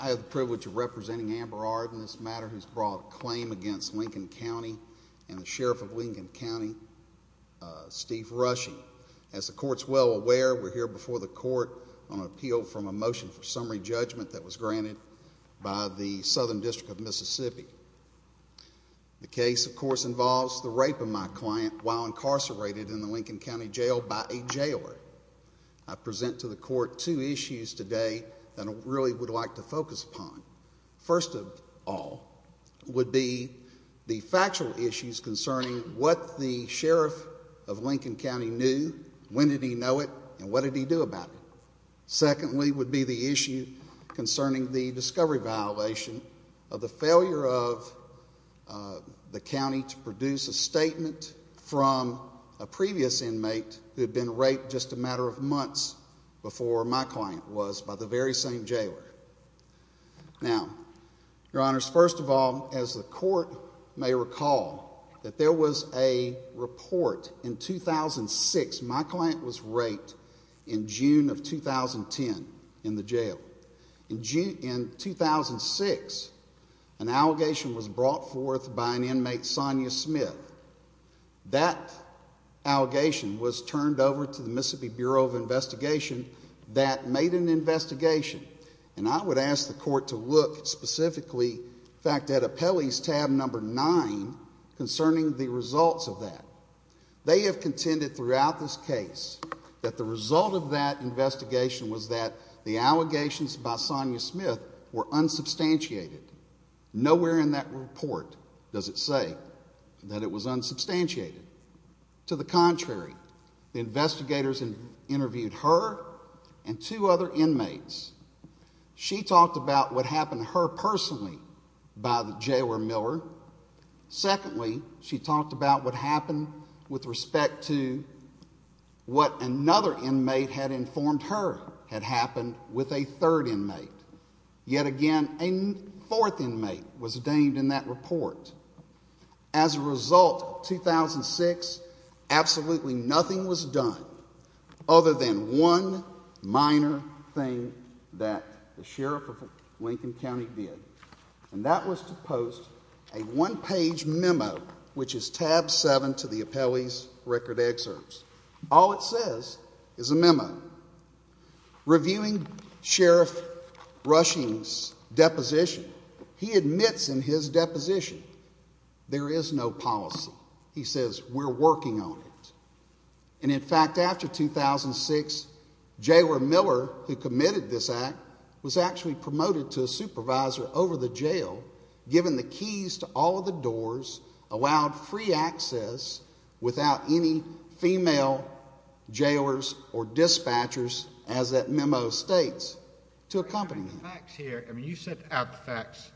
I have the privilege of representing Amber Ard in this matter who has brought a claim against Lincoln County and the Sheriff of Lincoln County, Steve Rushing. As the Court is well aware, we are here before the Court on an appeal from a motion for summary judgment that was granted by the Southern District of Mississippi. The case, of course, involves the rape of my client while incarcerated in the Lincoln County Jail by a jailer. I present to the Court two issues today that I really would like to focus upon. First of all would be the factual issues concerning what the Sheriff of Lincoln County knew, when did he know it, and what did he do about it. Secondly would be the issue concerning the discovery violation of the failure of the County to produce a statement from a previous inmate who had been raped just a matter of months before my client was by the very same jailer. Now, Your Honors, first of all, as the Court may recall, that there was a report in 2006. My client was raped in June of 2010 in the jail. In 2006, an allegation was brought forth by an inmate, Sonia Smith. That allegation was turned over to the Mississippi Bureau of Investigation that made an investigation. And I would ask the Court to look specifically, in fact, at appellees tab number nine concerning the results of that. They have contended throughout this case that the result of that investigation was that the allegations by Sonia Smith were unsubstantiated. Nowhere in that report does it say that it was unsubstantiated. To the contrary, the investigators interviewed her and two other inmates. She talked about what happened to her personally by the jailer Miller. Secondly, she talked about what happened with respect to what another inmate had informed her had happened with a third inmate. Yet again, a fourth inmate was named in that report. As a result, 2006, absolutely nothing was done other than one minor thing that the Sheriff of Lincoln County did. And that was to post a one-page memo, which is tab seven to the appellee's record excerpts. All it says is a memo reviewing Sheriff Rushing's deposition. He admits in his deposition there is no policy. He says, we're working on it. And in fact, after 2006, Jailer Miller, who committed this act, was actually promoted to a supervisor over the jail, given the keys to all of the doors, allowed free access without any female jailers or dispatchers, as that memo states, to accompany him. You set out the facts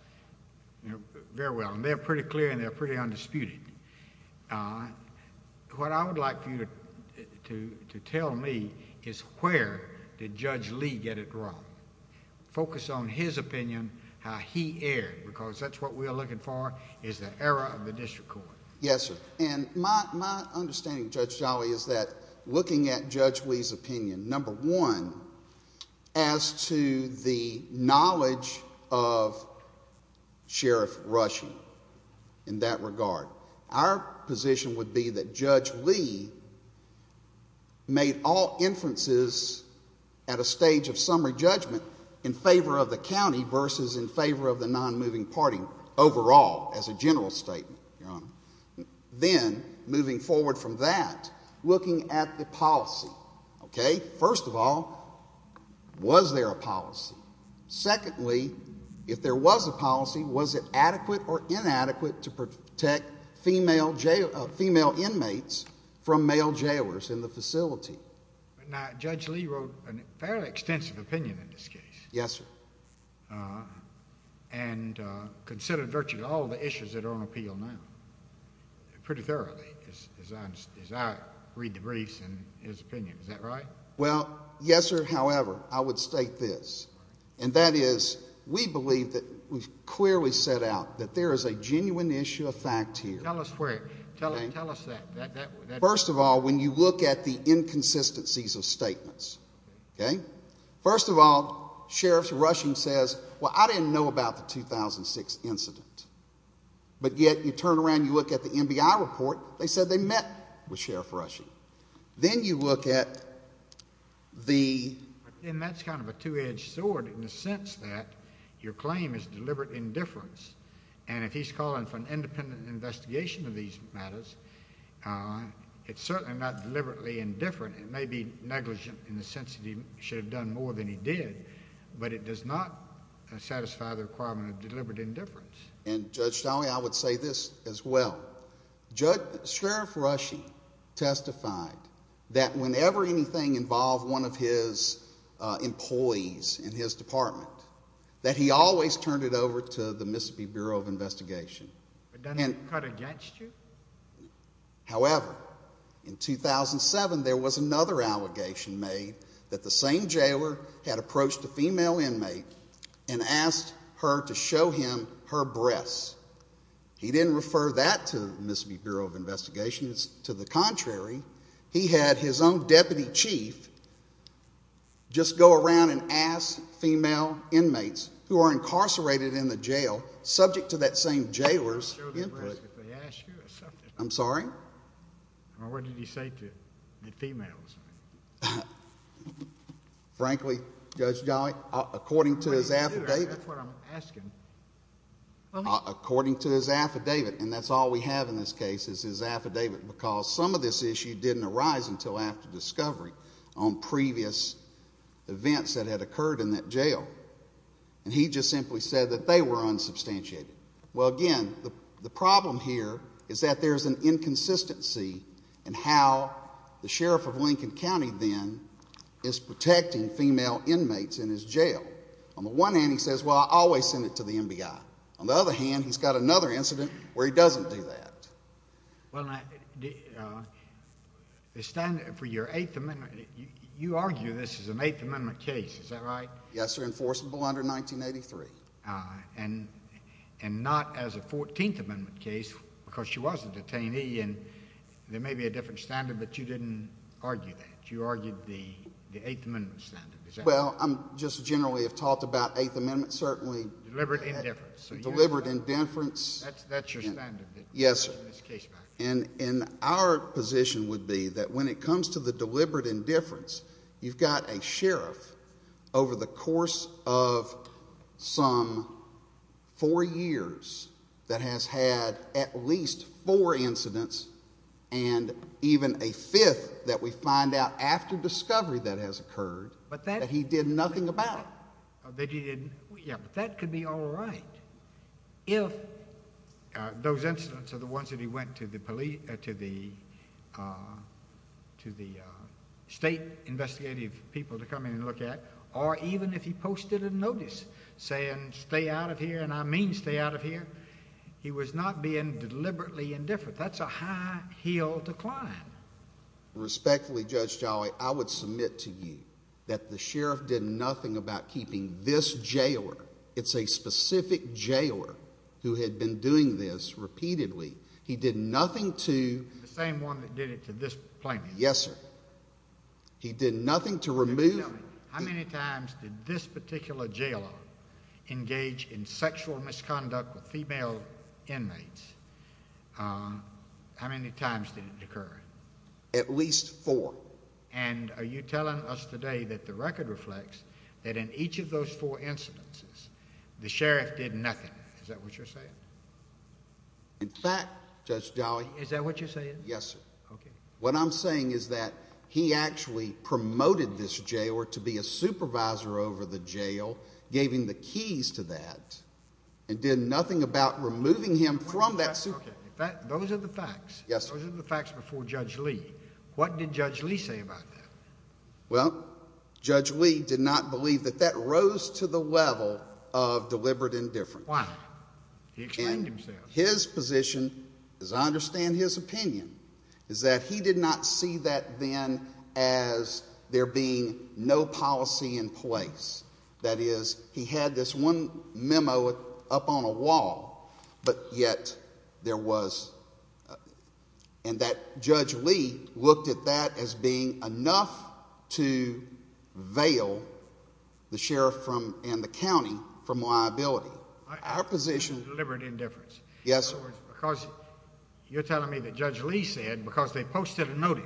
very well, and they're pretty clear and they're pretty undisputed. What I would like for you to tell me is where did Judge Lee get it wrong? Focus on his opinion, how he erred, because that's what we are looking for, is the error of the district court. Yes, sir. And my understanding, Judge Jolly, is that looking at Judge Lee's opinion, number one, as to the knowledge of Sheriff Rushing in that regard, our position would be that Judge Lee had all inferences at a stage of summary judgment in favor of the county versus in favor of the non-moving party overall, as a general statement, Your Honor. Then, moving forward from that, looking at the policy, okay? First of all, was there a policy? Secondly, if there was a policy, was it adequate or inadequate to protect female inmates from male jailers in the facility? Now, Judge Lee wrote a fairly extensive opinion in this case. Yes, sir. And considered virtually all the issues that are on appeal now, pretty thoroughly, as I read the briefs and his opinion. Is that right? Well, yes, sir. However, I would state this, and that is we believe that we've clearly set out that there is a genuine issue of fact here. Tell us where. Tell us that. First of all, when you look at the inconsistencies of statements, okay? First of all, Sheriff Rushing says, well, I didn't know about the 2006 incident. But yet, you turn around, you look at the NBI report, they said they met with Sheriff Rushing. Then you look at the... And that's kind of a two-edged sword in the sense that your claim is deliberate indifference. And if he's calling for an independent investigation of these matters, it's certainly not deliberately indifferent. It may be negligent in the sense that he should have done more than he did. But it does not satisfy the requirement of deliberate indifference. And Judge Stolle, I would say this as well. Sheriff Rushing testified that whenever anything involved one of his employees in his department, that he always turned it over to the Mississippi Bureau of Investigation. But doesn't it cut against you? However, in 2007, there was another allegation made that the same jailer had approached a female inmate and asked her to show him her breasts. He didn't refer that to the Mississippi Bureau of Investigation. To the contrary, he had his own deputy chief just go around and ask female inmates who are incarcerated in the jail, subject to that same jailer's input... I'm sorry? Well, what did he say to the females? Frankly, Judge Jolly, according to his affidavit... That's what I'm asking? According to his affidavit, and that's all we have in this case is his affidavit, because some of this issue didn't arise until after discovery on previous events that had occurred in that jail. And he just simply said that they were unsubstantiated. Well, again, the problem here is that there's an inconsistency in how the sheriff of Lincoln County then is protecting female inmates in his jail. On the one hand, he says, well, I always send it to the MBI. On the other hand, he's got another incident where he doesn't do that. Well, now, the standard for your Eighth Amendment... you argue this is an Eighth Amendment case, is that right? Yes, sir, enforceable under 1983. And not as a Fourteenth Amendment case, because she was a detainee, and there may be a different standard, but you didn't argue that. You argued the Eighth Amendment standard, is that right? Well, I'm just generally have talked about Eighth Amendment, certainly. Deliberate indifference. Deliberate indifference. That's your standard. Yes, sir. In this case... And our position would be that when it comes to the deliberate indifference, you've got a sheriff over the course of some four years that has had at least four incidents and even a fifth that we find out after discovery that has occurred that he did nothing about it. That he didn't... yeah, but that could be all right if those incidents are the ones that he went to the state investigative people to come in and look at, or even if he posted a notice saying, stay out of here, and I mean stay out of here. He was not being deliberately indifferent. That's a high hill to climb. Respectfully, Judge Jolly, I would submit to you that the sheriff did nothing about keeping this jailer. It's a specific jailer who had been doing this repeatedly. He did nothing to... The same one that did it to this plaintiff. Yes, sir. He did nothing to remove... How many times did this particular jailer engage in sexual misconduct with female inmates... how many times did it occur? At least four. And are you telling us today that the record reflects that in each of those four incidences the sheriff did nothing? Is that what you're saying? In fact, Judge Jolly... Is that what you're saying? Yes, sir. Okay. What I'm saying is that he actually promoted this jailer to be a supervisor over the jail, gave him the keys to that, and did nothing about removing him from that... Okay. Those are the facts. Yes, sir. Those are the facts before Judge Lee. What did Judge Lee say about that? Well, Judge Lee did not believe that that rose to the level of deliberate indifference. Why? He explained himself. And his position, as I understand his opinion, is that he did not see that then as there being no policy in place. That is, he had this one memo up on a wall, but yet there was... and that Judge Lee looked at that as being enough to veil the sheriff and the county from liability. Our position... Deliberate indifference. Yes. In other words, because you're telling me that Judge Lee said, because they posted a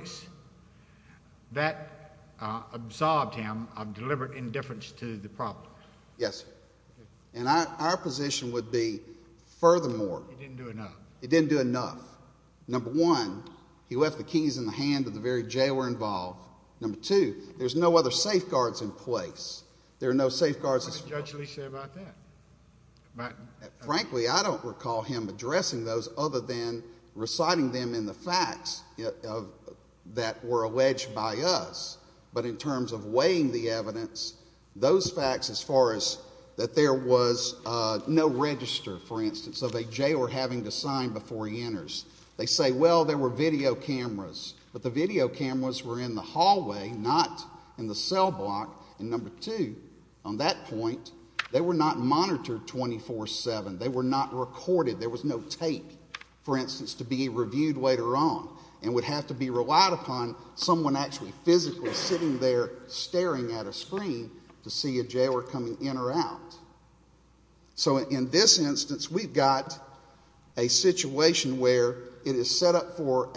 that absorbed him of deliberate indifference to the problem. Yes, sir. And our position would be, furthermore... He didn't do enough. He didn't do enough. Number one, he left the keys in the hand of the very jailer involved. Number two, there's no other safeguards in place. There are no safeguards... What did Judge Lee say about that? Frankly, I don't recall him addressing those other than reciting them in the facts that were alleged by us, but in terms of weighing the evidence, those facts as far as that there was no register, for instance, of a jailer having to sign before he enters. They say, well, there were video cameras, but the video cameras were in the hallway, not in the cell block, and number two, on that point, they were not monitored 24-7. They were not recorded. There was no tape, for instance, to be reviewed later on and would have to be relied upon someone actually physically sitting there staring at a screen to see a jailer coming in or out. So in this instance, we've got a situation where it is set up for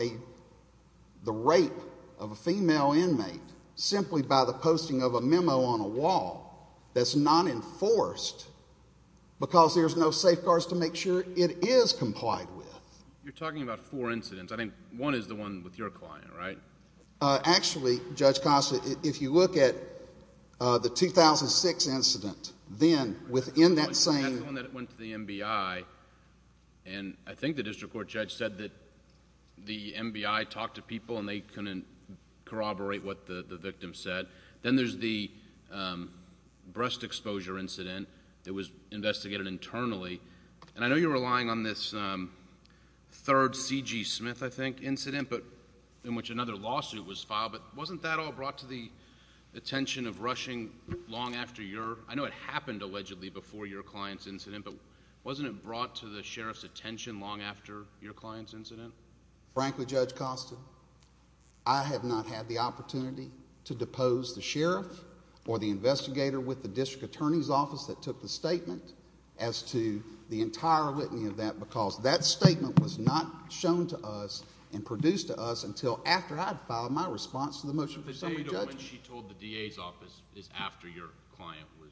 the rape of a female inmate simply by the posting of a memo on a wall that's not enforced because there's no safeguards to make sure it is complied with. You're talking about four incidents. I think one is the one with your client, right? Actually, Judge Costa, if you look at the 2006 incident, then within that same... That's the one that went to the MBI, and I think the district court judge said that the MBI talked to people and they couldn't corroborate what the victim said. Then there's the breast exposure incident that was investigated internally, and I know you're relying on this third C.G. Smith, I think, incident in which another lawsuit was filed, but wasn't that all brought to the attention of rushing long after your... I know it happened allegedly before your client's incident, but wasn't it brought to the sheriff's attention long after your client's incident? Frankly, Judge Costa, I have not had the opportunity to depose the sheriff or the investigator with the district attorney's office that took the statement as to the entire litany of that because that statement was not shown to us and produced to us until after I'd filed my response to the motion from some of the judges. But the data when she told the DA's office is after your client was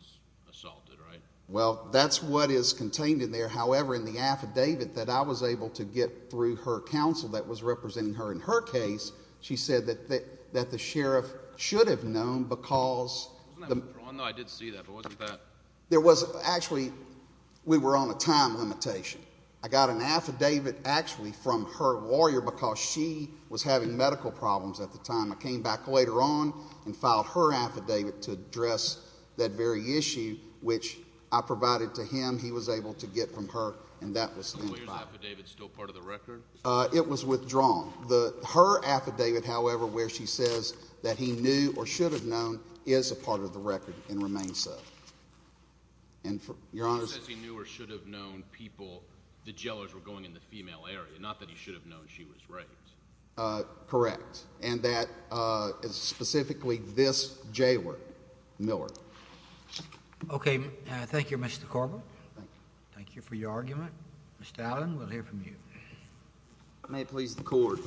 assaulted, right? Well, that's what is contained in there, however, in the affidavit that I was able to get through her counsel that was representing her in her case, she said that the sheriff should have been known because... Wasn't that withdrawn? No, I did see that, but wasn't that... There was... actually, we were on a time limitation. I got an affidavit actually from her lawyer because she was having medical problems at the time. I came back later on and filed her affidavit to address that very issue, which I provided to him. He was able to get from her, and that was... Is the lawyer's affidavit still part of the record? It was withdrawn. Her affidavit, however, where she says that he knew or should have known is a part of the record and remains so. And for... Your Honor... He says he knew or should have known people... the jellers were going in the female area, not that he should have known she was raped. Correct. And that is specifically this jailer, Miller. Okay. Thank you, Mr. Corwin. Thank you. Thank you for your argument. Mr. Allen, we'll hear from you. May it please the Court.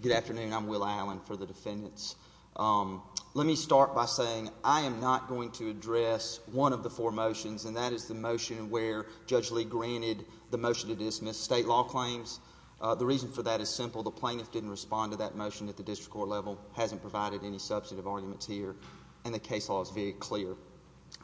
Good afternoon. I'm Will Allen for the defendants. Let me start by saying I am not going to address one of the four motions, and that is the motion where Judge Lee granted the motion to dismiss state law claims. The reason for that is simple. The plaintiff didn't respond to that motion at the district court level, hasn't provided any substantive arguments here, and the case law is very clear.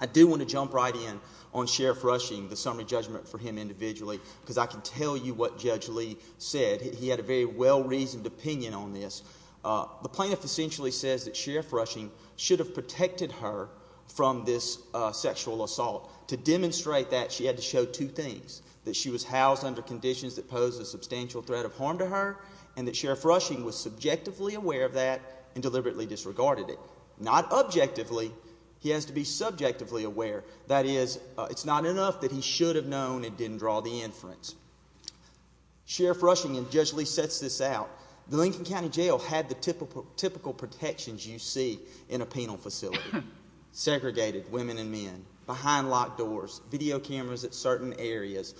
I do want to jump right in on Sheriff Rushing, the summary judgment for him individually, because I can tell you what Judge Lee said. He had a very well-reasoned opinion on this. The plaintiff essentially says that Sheriff Rushing should have protected her from this sexual assault. To demonstrate that, she had to show two things, that she was housed under conditions that posed a substantial threat of harm to her, and that Sheriff Rushing was subjectively aware of that and deliberately disregarded it. Not objectively. He has to be subjectively aware. That is, it's not enough that he should have known and didn't draw the inference. Sheriff Rushing, and Judge Lee sets this out, the Lincoln County Jail had the typical protections you see in a penal facility, segregated women and men, behind locked doors, video cameras at certain areas.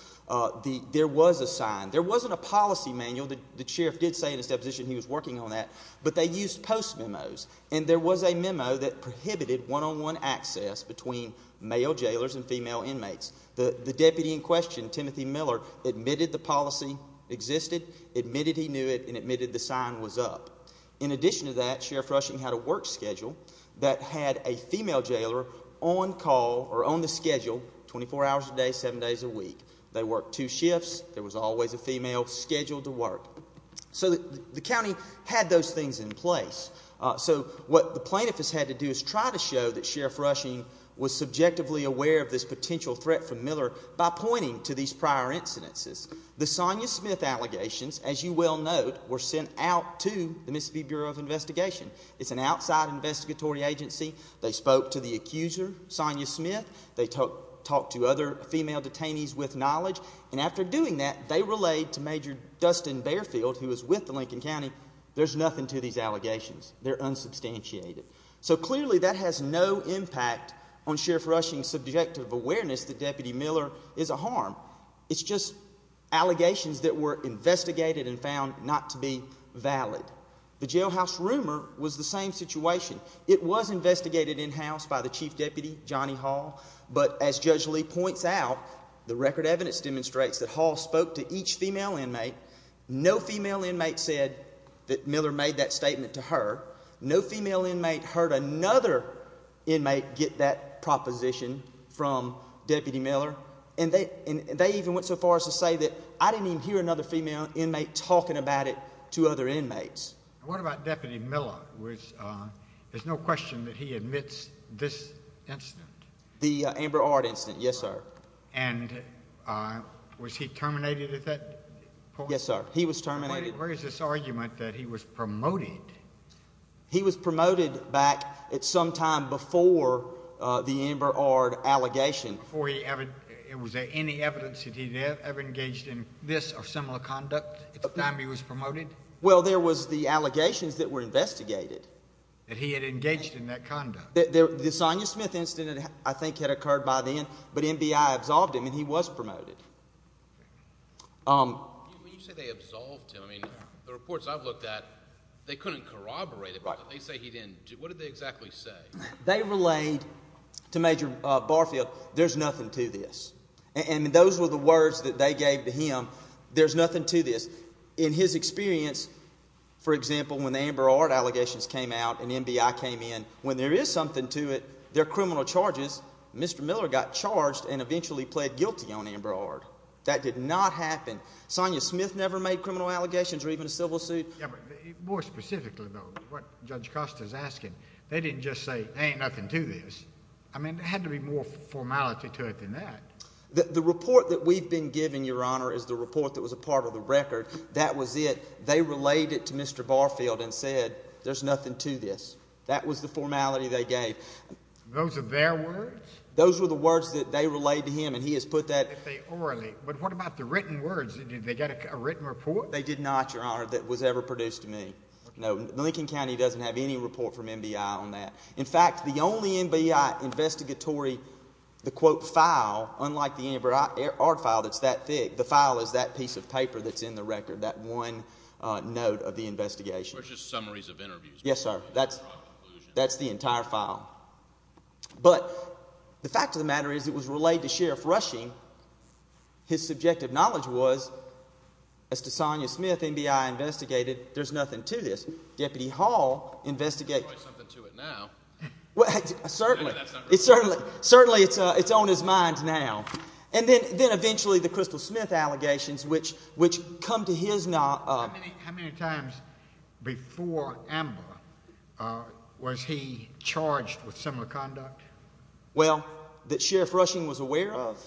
There was a sign. There wasn't a policy manual. The Sheriff did say in his deposition he was working on that, but they used post memos, and there was a memo that prohibited one-on-one access between male jailers and female inmates. The deputy in question, Timothy Miller, admitted the policy existed, admitted he knew it, and admitted the sign was up. In addition to that, Sheriff Rushing had a work schedule that had a female jailer on call, or on the schedule, 24 hours a day, 7 days a week. They worked two shifts. There was always a female scheduled to work. So the county had those things in place. So what the plaintiff has had to do is try to show that Sheriff Rushing was subjectively aware of this potential threat from Miller by pointing to these prior incidences. The Sonia Smith allegations, as you well know, were sent out to the Mississippi Bureau of Investigation. It's an outside investigatory agency. They spoke to the accuser, Sonia Smith. They talked to other female detainees with knowledge, and after doing that, they relayed to Major Dustin Barefield, who was with the Lincoln County, there's nothing to these allegations. They're unsubstantiated. So clearly, that has no impact on Sheriff Rushing's subjective awareness that Deputy Miller is a harm. It's just allegations that were investigated and found not to be valid. The jailhouse rumor was the same situation. It was investigated in-house by the chief deputy, Johnny Hall, but as Judge Lee points out, the record evidence demonstrates that Hall spoke to each female inmate. No female inmate said that Miller made that statement to her. No female inmate heard another inmate get that proposition from Deputy Miller, and they even went so far as to say that, I didn't even hear another female inmate talking about it to other inmates. What about Deputy Miller, which there's no question that he admits this incident? The Amber Ard incident, yes, sir. And was he terminated at that point? Yes, sir. He was terminated. Where is this argument that he was promoted? He was promoted back at some time before the Amber Ard allegation. Before he ever, was there any evidence that he ever engaged in this or similar conduct at the time he was promoted? Well, there was the allegations that were investigated. That he had engaged in that conduct. The Sonia Smith incident, I think, had occurred by then, but NBI absolved him, and he was promoted. When you say they absolved him, I mean, the reports I've looked at, they couldn't corroborate it. They say he didn't. What did they exactly say? They relayed to Major Barfield, there's nothing to this. And those were the words that they gave to him, there's nothing to this. In his experience, for example, when the Amber Ard allegations came out and NBI came in, when there is something to it, they're criminal charges, Mr. Miller got charged and eventually pled guilty on Amber Ard. That did not happen. Sonia Smith never made criminal allegations or even a civil suit. Yeah, but more specifically, though, what Judge Costa's asking, they didn't just say, hey, nothing to this. I mean, there had to be more formality to it than that. The report that we've been given, Your Honor, is the report that was a part of the record. That was it. They relayed it to Mr. Barfield and said, there's nothing to this. That was the formality they gave. Those are their words? Those were the words that they relayed to him, and he has put that. But what about the written words? Did they get a written report? They did not, Your Honor, that was ever produced to me. No, Lincoln County doesn't have any report from NBI on that. In fact, the only NBI investigatory, the quote, file, unlike the Amber Ard file that's that thick, the file is that piece of paper that's in the record, that one note of the investigation. It's just summaries of interviews. Yes, sir. That's the entire file. But the fact of the matter is, it was relayed to Sheriff Rushing. His subjective knowledge was, as to Sonia Smith, NBI investigated, there's nothing to this. Deputy Hall investigated. There's probably something to it now. Certainly. Certainly, it's on his mind now. And then eventually, the Crystal Smith allegations, which come to his knowledge. How many times before Amber, was he charged with similar conduct? Well, that Sheriff Rushing was aware of?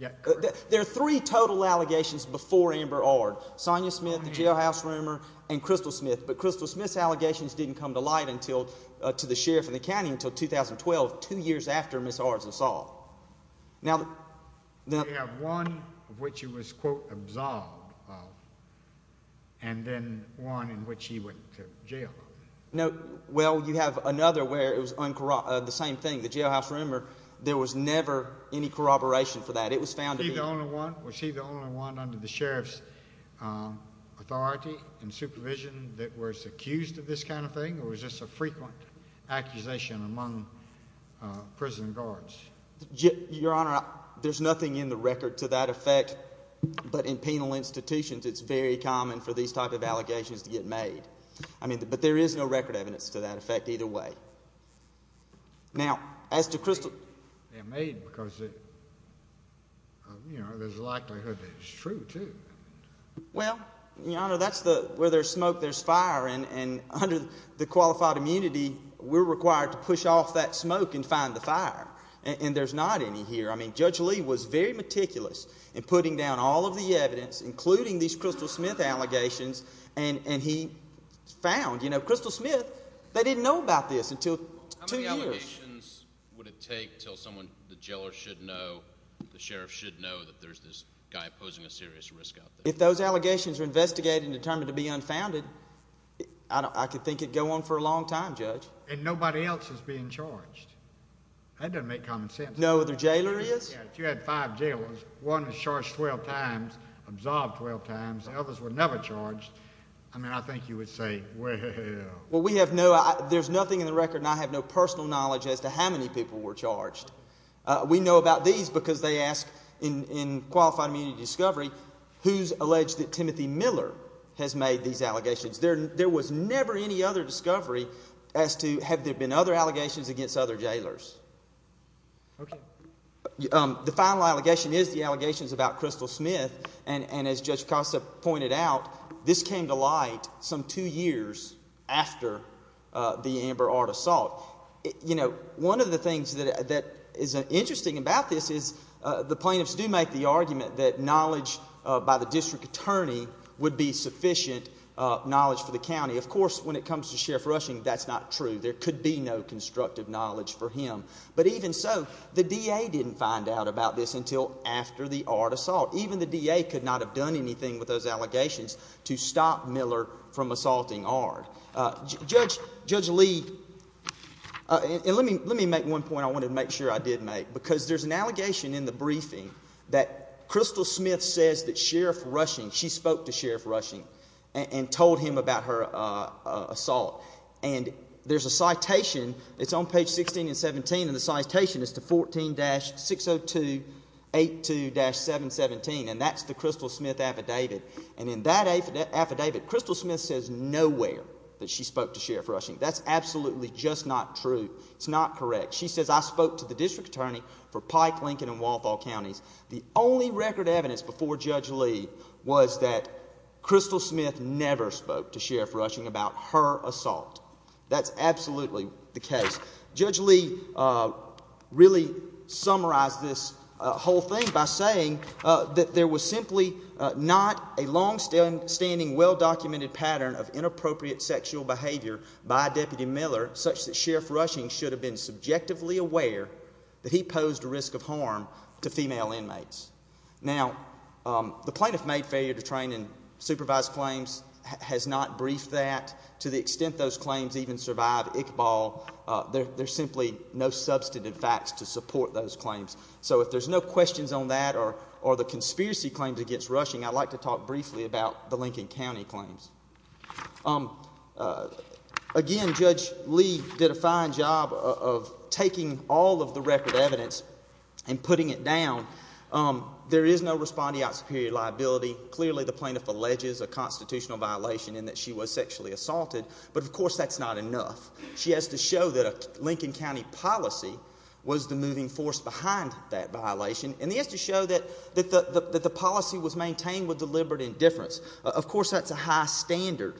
Yes, correct. There are three total allegations before Amber Ard. Sonia Smith, the jailhouse rumor, and Crystal Smith. But Crystal Smith's allegations didn't come to light until, to the Sheriff and the county until 2012, two years after Ms. Ard's assault. You have one of which he was, quote, absolved of, and then one in which he went to jail. Well, you have another where it was the same thing. The jailhouse rumor, there was never any corroboration for that. Was he the only one under the Sheriff's authority and supervision that was accused of this kind of thing, or was this a frequent accusation among prison guards? Your Honor, there's nothing in the record to that effect. But in penal institutions, it's very common for these type of allegations to get made. But there is no record evidence to that effect either way. Now, as to Crystal— They're made because there's a likelihood that it's true, too. Well, Your Honor, that's where there's smoke, there's fire. And under the qualified immunity, we're required to push off that smoke and find the fire. And there's not any here. I mean, Judge Lee was very meticulous in putting down all of the evidence, including these Crystal Smith allegations. And he found, you know, Crystal Smith, they didn't know about this until two years. How many allegations would it take until someone, the jailer should know, the Sheriff should know, that there's this guy posing a serious risk out there? If those allegations are investigated and determined to be unfounded, I could think it'd go on for a long time, Judge. And nobody else is being charged. That doesn't make common sense. No other jailer is? Yeah, if you had five jailers, one was charged 12 times, absolved 12 times, and others were never charged, I mean, I think you would say, well— Well, we have no—there's nothing in the record, and I have no personal knowledge as to how many people were charged. We know about these because they ask, in Qualified Immunity Discovery, who's alleged that Timothy Miller has made these allegations? There was never any other discovery as to have there been other allegations against other jailers. Okay. The final allegation is the allegations about Crystal Smith. And as Judge Costa pointed out, this came to light some two years after the Amber Ard assault. You know, one of the things that is interesting about this is the plaintiffs do make the argument that knowledge by the district attorney would be sufficient knowledge for the county. Of course, when it comes to Sheriff Rushing, that's not true. There could be no constructive knowledge for him. But even so, the DA didn't find out about this until after the Ard assault. Even the DA could not have done anything with those allegations to stop Miller from assaulting Ard. Judge Lee, and let me make one point I wanted to make sure I did make, because there's an allegation in the briefing that Crystal Smith says that Sheriff Rushing, she spoke to Sheriff Rushing and told him about her assault. And there's a citation. It's on page 16 and 17, and the citation is to 14-602-82-717, and that's the Crystal Smith affidavit. And in that affidavit, Crystal Smith says nowhere that she spoke to Sheriff Rushing. That's absolutely just not true. It's not correct. She says, I spoke to the district attorney for Pike, Lincoln, and Walthall counties. The only record evidence before Judge Lee was that Crystal Smith never spoke to Sheriff Rushing about her assault. That's absolutely the case. Judge Lee really summarized this whole thing by saying that there was simply not a longstanding, well-documented pattern of inappropriate sexual behavior by Deputy Miller such that Sheriff Rushing should have been subjectively aware that he posed a risk of harm to female inmates. Now, the plaintiff made failure to train and supervise claims, has not briefed that. To the extent those claims even survive Iqbal, there's simply no substantive facts to support those claims. So if there's no questions on that or the conspiracy claims against Rushing, I'd like to talk briefly about the Lincoln County claims. Again, Judge Lee did a fine job of taking all of the record evidence and putting it down. There is no respondeat superior liability. Clearly the plaintiff alleges a constitutional violation in that she was sexually assaulted, but of course that's not enough. She has to show that a Lincoln County policy was the moving force behind that violation, and she has to show that the policy was maintained with deliberate indifference. Of course that's a high standard.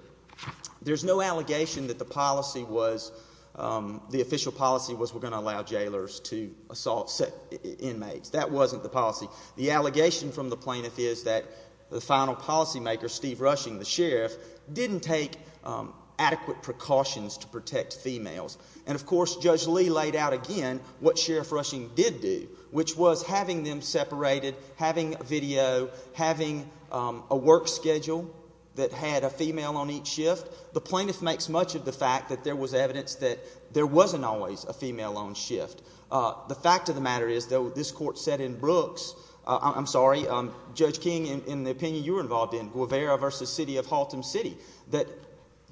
There's no allegation that the policy was, the official policy was we're going to allow jailers to assault inmates. That wasn't the policy. The allegation from the plaintiff is that the final policymaker, Steve Rushing, the sheriff, didn't take adequate precautions to protect females. And, of course, Judge Lee laid out again what Sheriff Rushing did do, which was having them separated, having video, having a work schedule that had a female on each shift. The plaintiff makes much of the fact that there was evidence that there wasn't always a female on shift. The fact of the matter is, though, this court said in Brooks, I'm sorry, Judge King, in the opinion you were involved in, Guevara v. City of Haltom City, that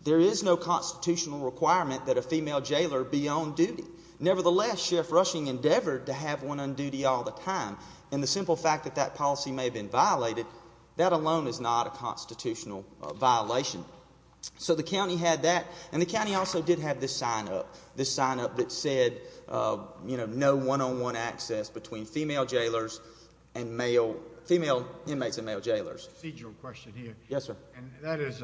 there is no constitutional requirement that a female jailer be on duty. Nevertheless, Sheriff Rushing endeavored to have one on duty all the time, and the simple fact that that policy may have been violated, that alone is not a constitutional violation. So the county had that, and the county also did have this sign-up, this sign-up that said no one-on-one access between female inmates and male jailers. Procedural question here. Yes, sir. And that is,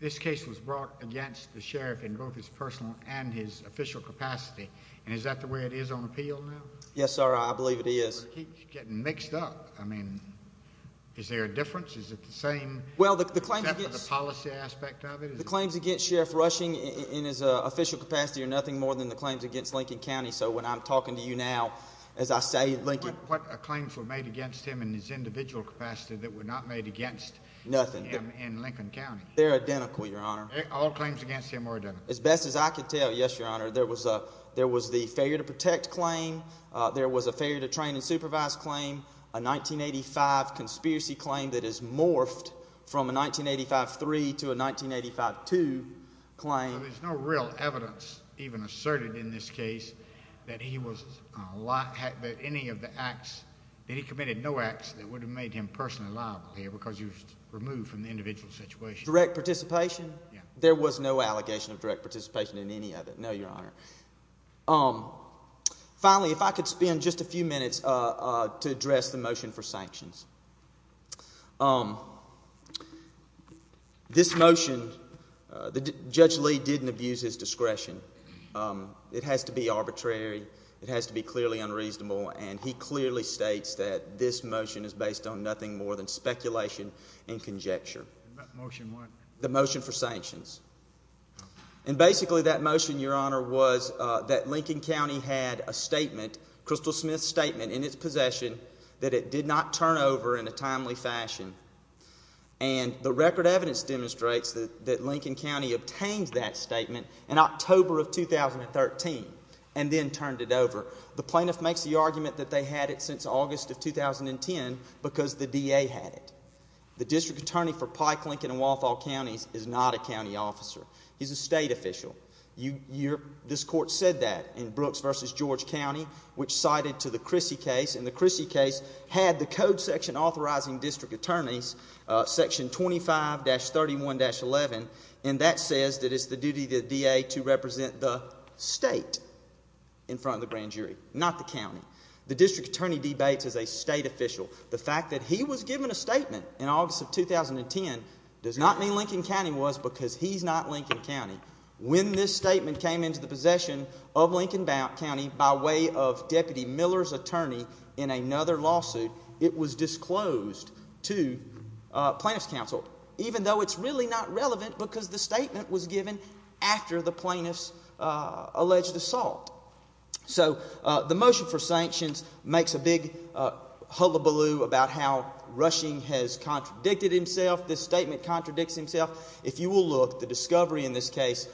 this case was brought against the sheriff in both his personal and his official capacity, and is that the way it is on appeal now? Yes, sir, I believe it is. But it keeps getting mixed up. I mean, is there a difference? Is it the same except for the policy aspect of it? The claims against Sheriff Rushing in his official capacity are nothing more than the claims against Lincoln County. So when I'm talking to you now, as I say, Lincoln. What claims were made against him in his individual capacity that were not made against him in Lincoln County? They're identical, Your Honor. All claims against him were identical? As best as I can tell, yes, Your Honor. There was the failure to protect claim. There was a failure to train and supervise claim. A 1985 conspiracy claim that has morphed from a 1985-3 to a 1985-2 claim. So there's no real evidence even asserted in this case that he committed no acts that would have made him personally liable here because he was removed from the individual situation? Direct participation? Yes. There was no allegation of direct participation in any of it? No, Your Honor. Finally, if I could spend just a few minutes to address the motion for sanctions. This motion, Judge Lee didn't abuse his discretion. It has to be arbitrary. It has to be clearly unreasonable. And he clearly states that this motion is based on nothing more than speculation and conjecture. That motion what? The motion for sanctions. And basically that motion, Your Honor, was that Lincoln County had a statement, Crystal Smith's statement in its possession, that it did not turn over in a timely fashion. And the record evidence demonstrates that Lincoln County obtained that statement in October of 2013 and then turned it over. The plaintiff makes the argument that they had it since August of 2010 because the DA had it. The district attorney for Pike, Lincoln, and Walthall Counties is not a county officer. He's a state official. This court said that in Brooks v. George County, which cited to the Chrissy case. And the Chrissy case had the code section authorizing district attorneys, Section 25-31-11, and that says that it's the duty of the DA to represent the state in front of the grand jury, not the county. The district attorney debates as a state official. The fact that he was given a statement in August of 2010 does not mean Lincoln County was because he's not Lincoln County. When this statement came into the possession of Lincoln County by way of Deputy Miller's attorney in another lawsuit, it was disclosed to plaintiff's counsel, even though it's really not relevant because the statement was given after the plaintiff's alleged assault. So the motion for sanctions makes a big hullabaloo about how Rushing has contradicted himself. This statement contradicts himself. If you will look, the discovery in this case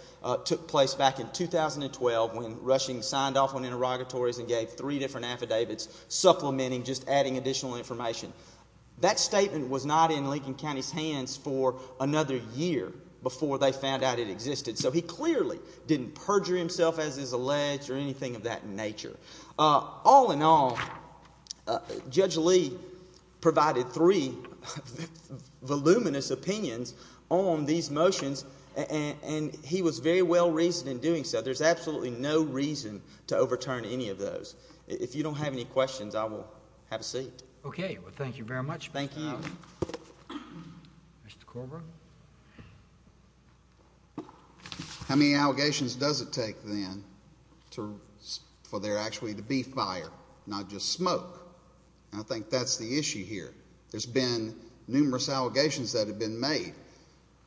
took place back in 2012 when Rushing signed off on interrogatories and gave three different affidavits supplementing just adding additional information. That statement was not in Lincoln County's hands for another year before they found out it existed. So he clearly didn't perjure himself as is alleged or anything of that nature. All in all, Judge Lee provided three voluminous opinions on these motions, and he was very well-reasoned in doing so. There's absolutely no reason to overturn any of those. If you don't have any questions, I will have a seat. Okay. Well, thank you very much. Thank you. Mr. Korbruch. How many allegations does it take, then, for there actually to be fire, not just smoke? I think that's the issue here. There's been numerous allegations that have been made.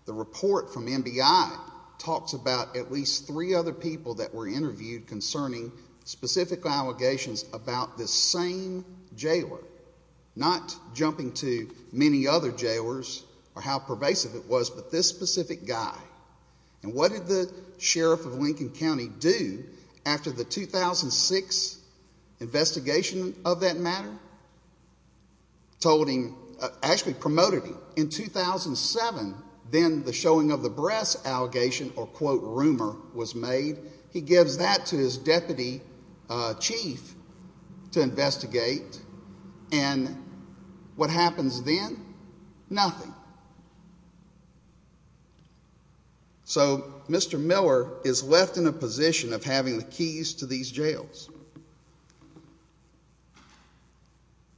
The report from MBI talks about at least three other people that were interviewed concerning specific allegations about this same jailer, not jumping to many other jailers or how pervasive it was, but this specific guy. And what did the sheriff of Lincoln County do after the 2006 investigation of that matter? Told him, actually promoted him. In 2007, then, the showing of the breasts allegation or, quote, rumor was made. He gives that to his deputy chief to investigate, and what happens then? Nothing. So Mr. Miller is left in a position of having the keys to these jails.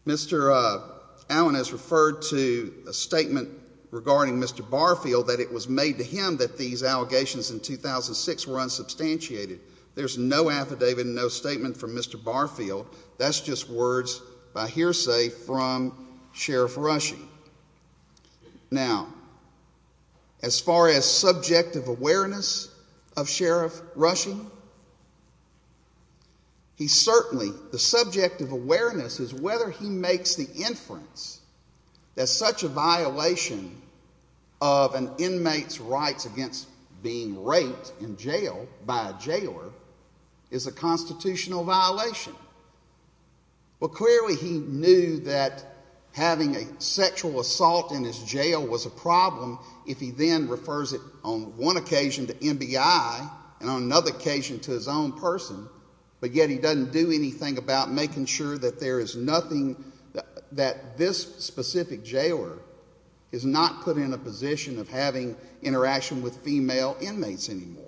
Mr. Allen has referred to a statement regarding Mr. Barfield, that it was made to him that these allegations in 2006 were unsubstantiated. There's no affidavit, no statement from Mr. Barfield. That's just words by hearsay from Sheriff Rushing. Now, as far as subjective awareness of Sheriff Rushing, he certainly, the subjective awareness is whether he makes the inference that such a violation of an inmate's rights against being raped in jail by a jailer is a constitutional violation. Well, clearly he knew that having a sexual assault in his jail was a problem if he then refers it on one occasion to MBI and on another occasion to his own person, but yet he doesn't do anything about making sure that there is nothing, that this specific jailer is not put in a position of having interaction with female inmates anymore.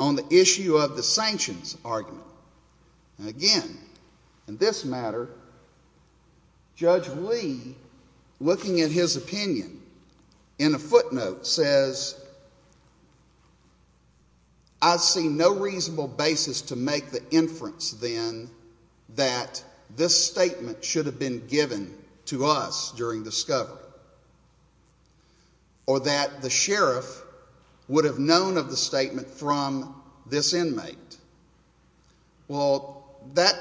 On the issue of the sanctions argument, again, in this matter, Judge Lee, looking at his opinion in a footnote, says, I see no reasonable basis to make the inference, then, that this statement should have been given to us during discovery or that the sheriff would have known of the statement from this inmate. Well, that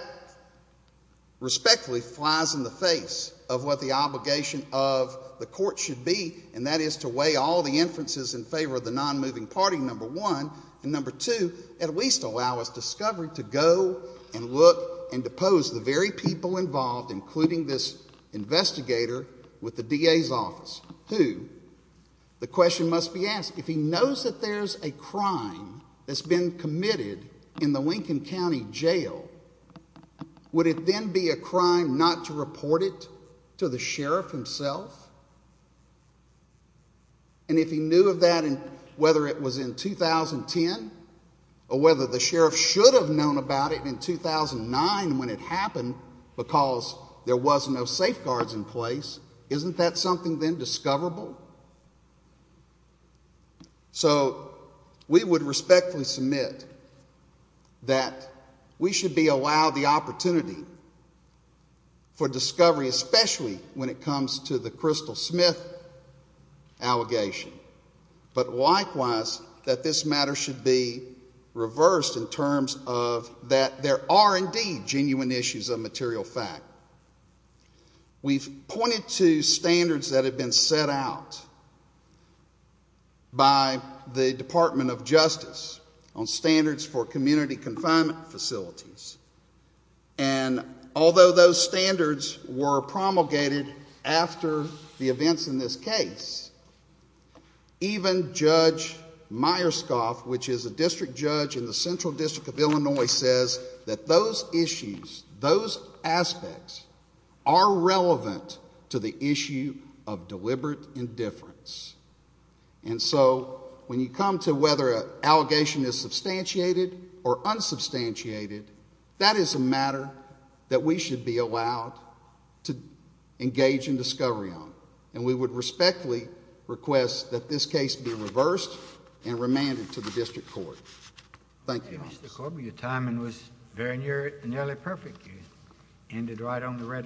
respectfully flies in the face of what the obligation of the court should be, and that is to weigh all the inferences in favor of the nonmoving party, number one, and number two, at least allow us discovery to go and look and depose the very people involved, including this investigator with the DA's office, who, the question must be asked, if he knows that there's a crime that's been committed in the Lincoln County Jail, would it then be a crime not to report it to the sheriff himself? And if he knew of that, whether it was in 2010 or whether the sheriff should have known about it in 2009 when it happened because there was no safeguards in place, isn't that something then discoverable? So we would respectfully submit that we should be allowed the opportunity for discovery, especially when it comes to the Crystal Smith allegation, but likewise that this matter should be reversed in terms of that there are, indeed, genuine issues of material fact. We've pointed to standards that have been set out by the Department of Justice on standards for community confinement facilities, and although those standards were promulgated after the events in this case, even Judge Myerscoff, which is a district judge in the Central District of Illinois, says that those issues, those aspects, are relevant to the issue of deliberate indifference. And so when you come to whether an allegation is substantiated or unsubstantiated, that is a matter that we should be allowed to engage in discovery on, and we would respectfully request that this case be reversed and remanded to the district court. Thank you. Mr. Corby, your timing was very nearly perfect. You ended right on the red line.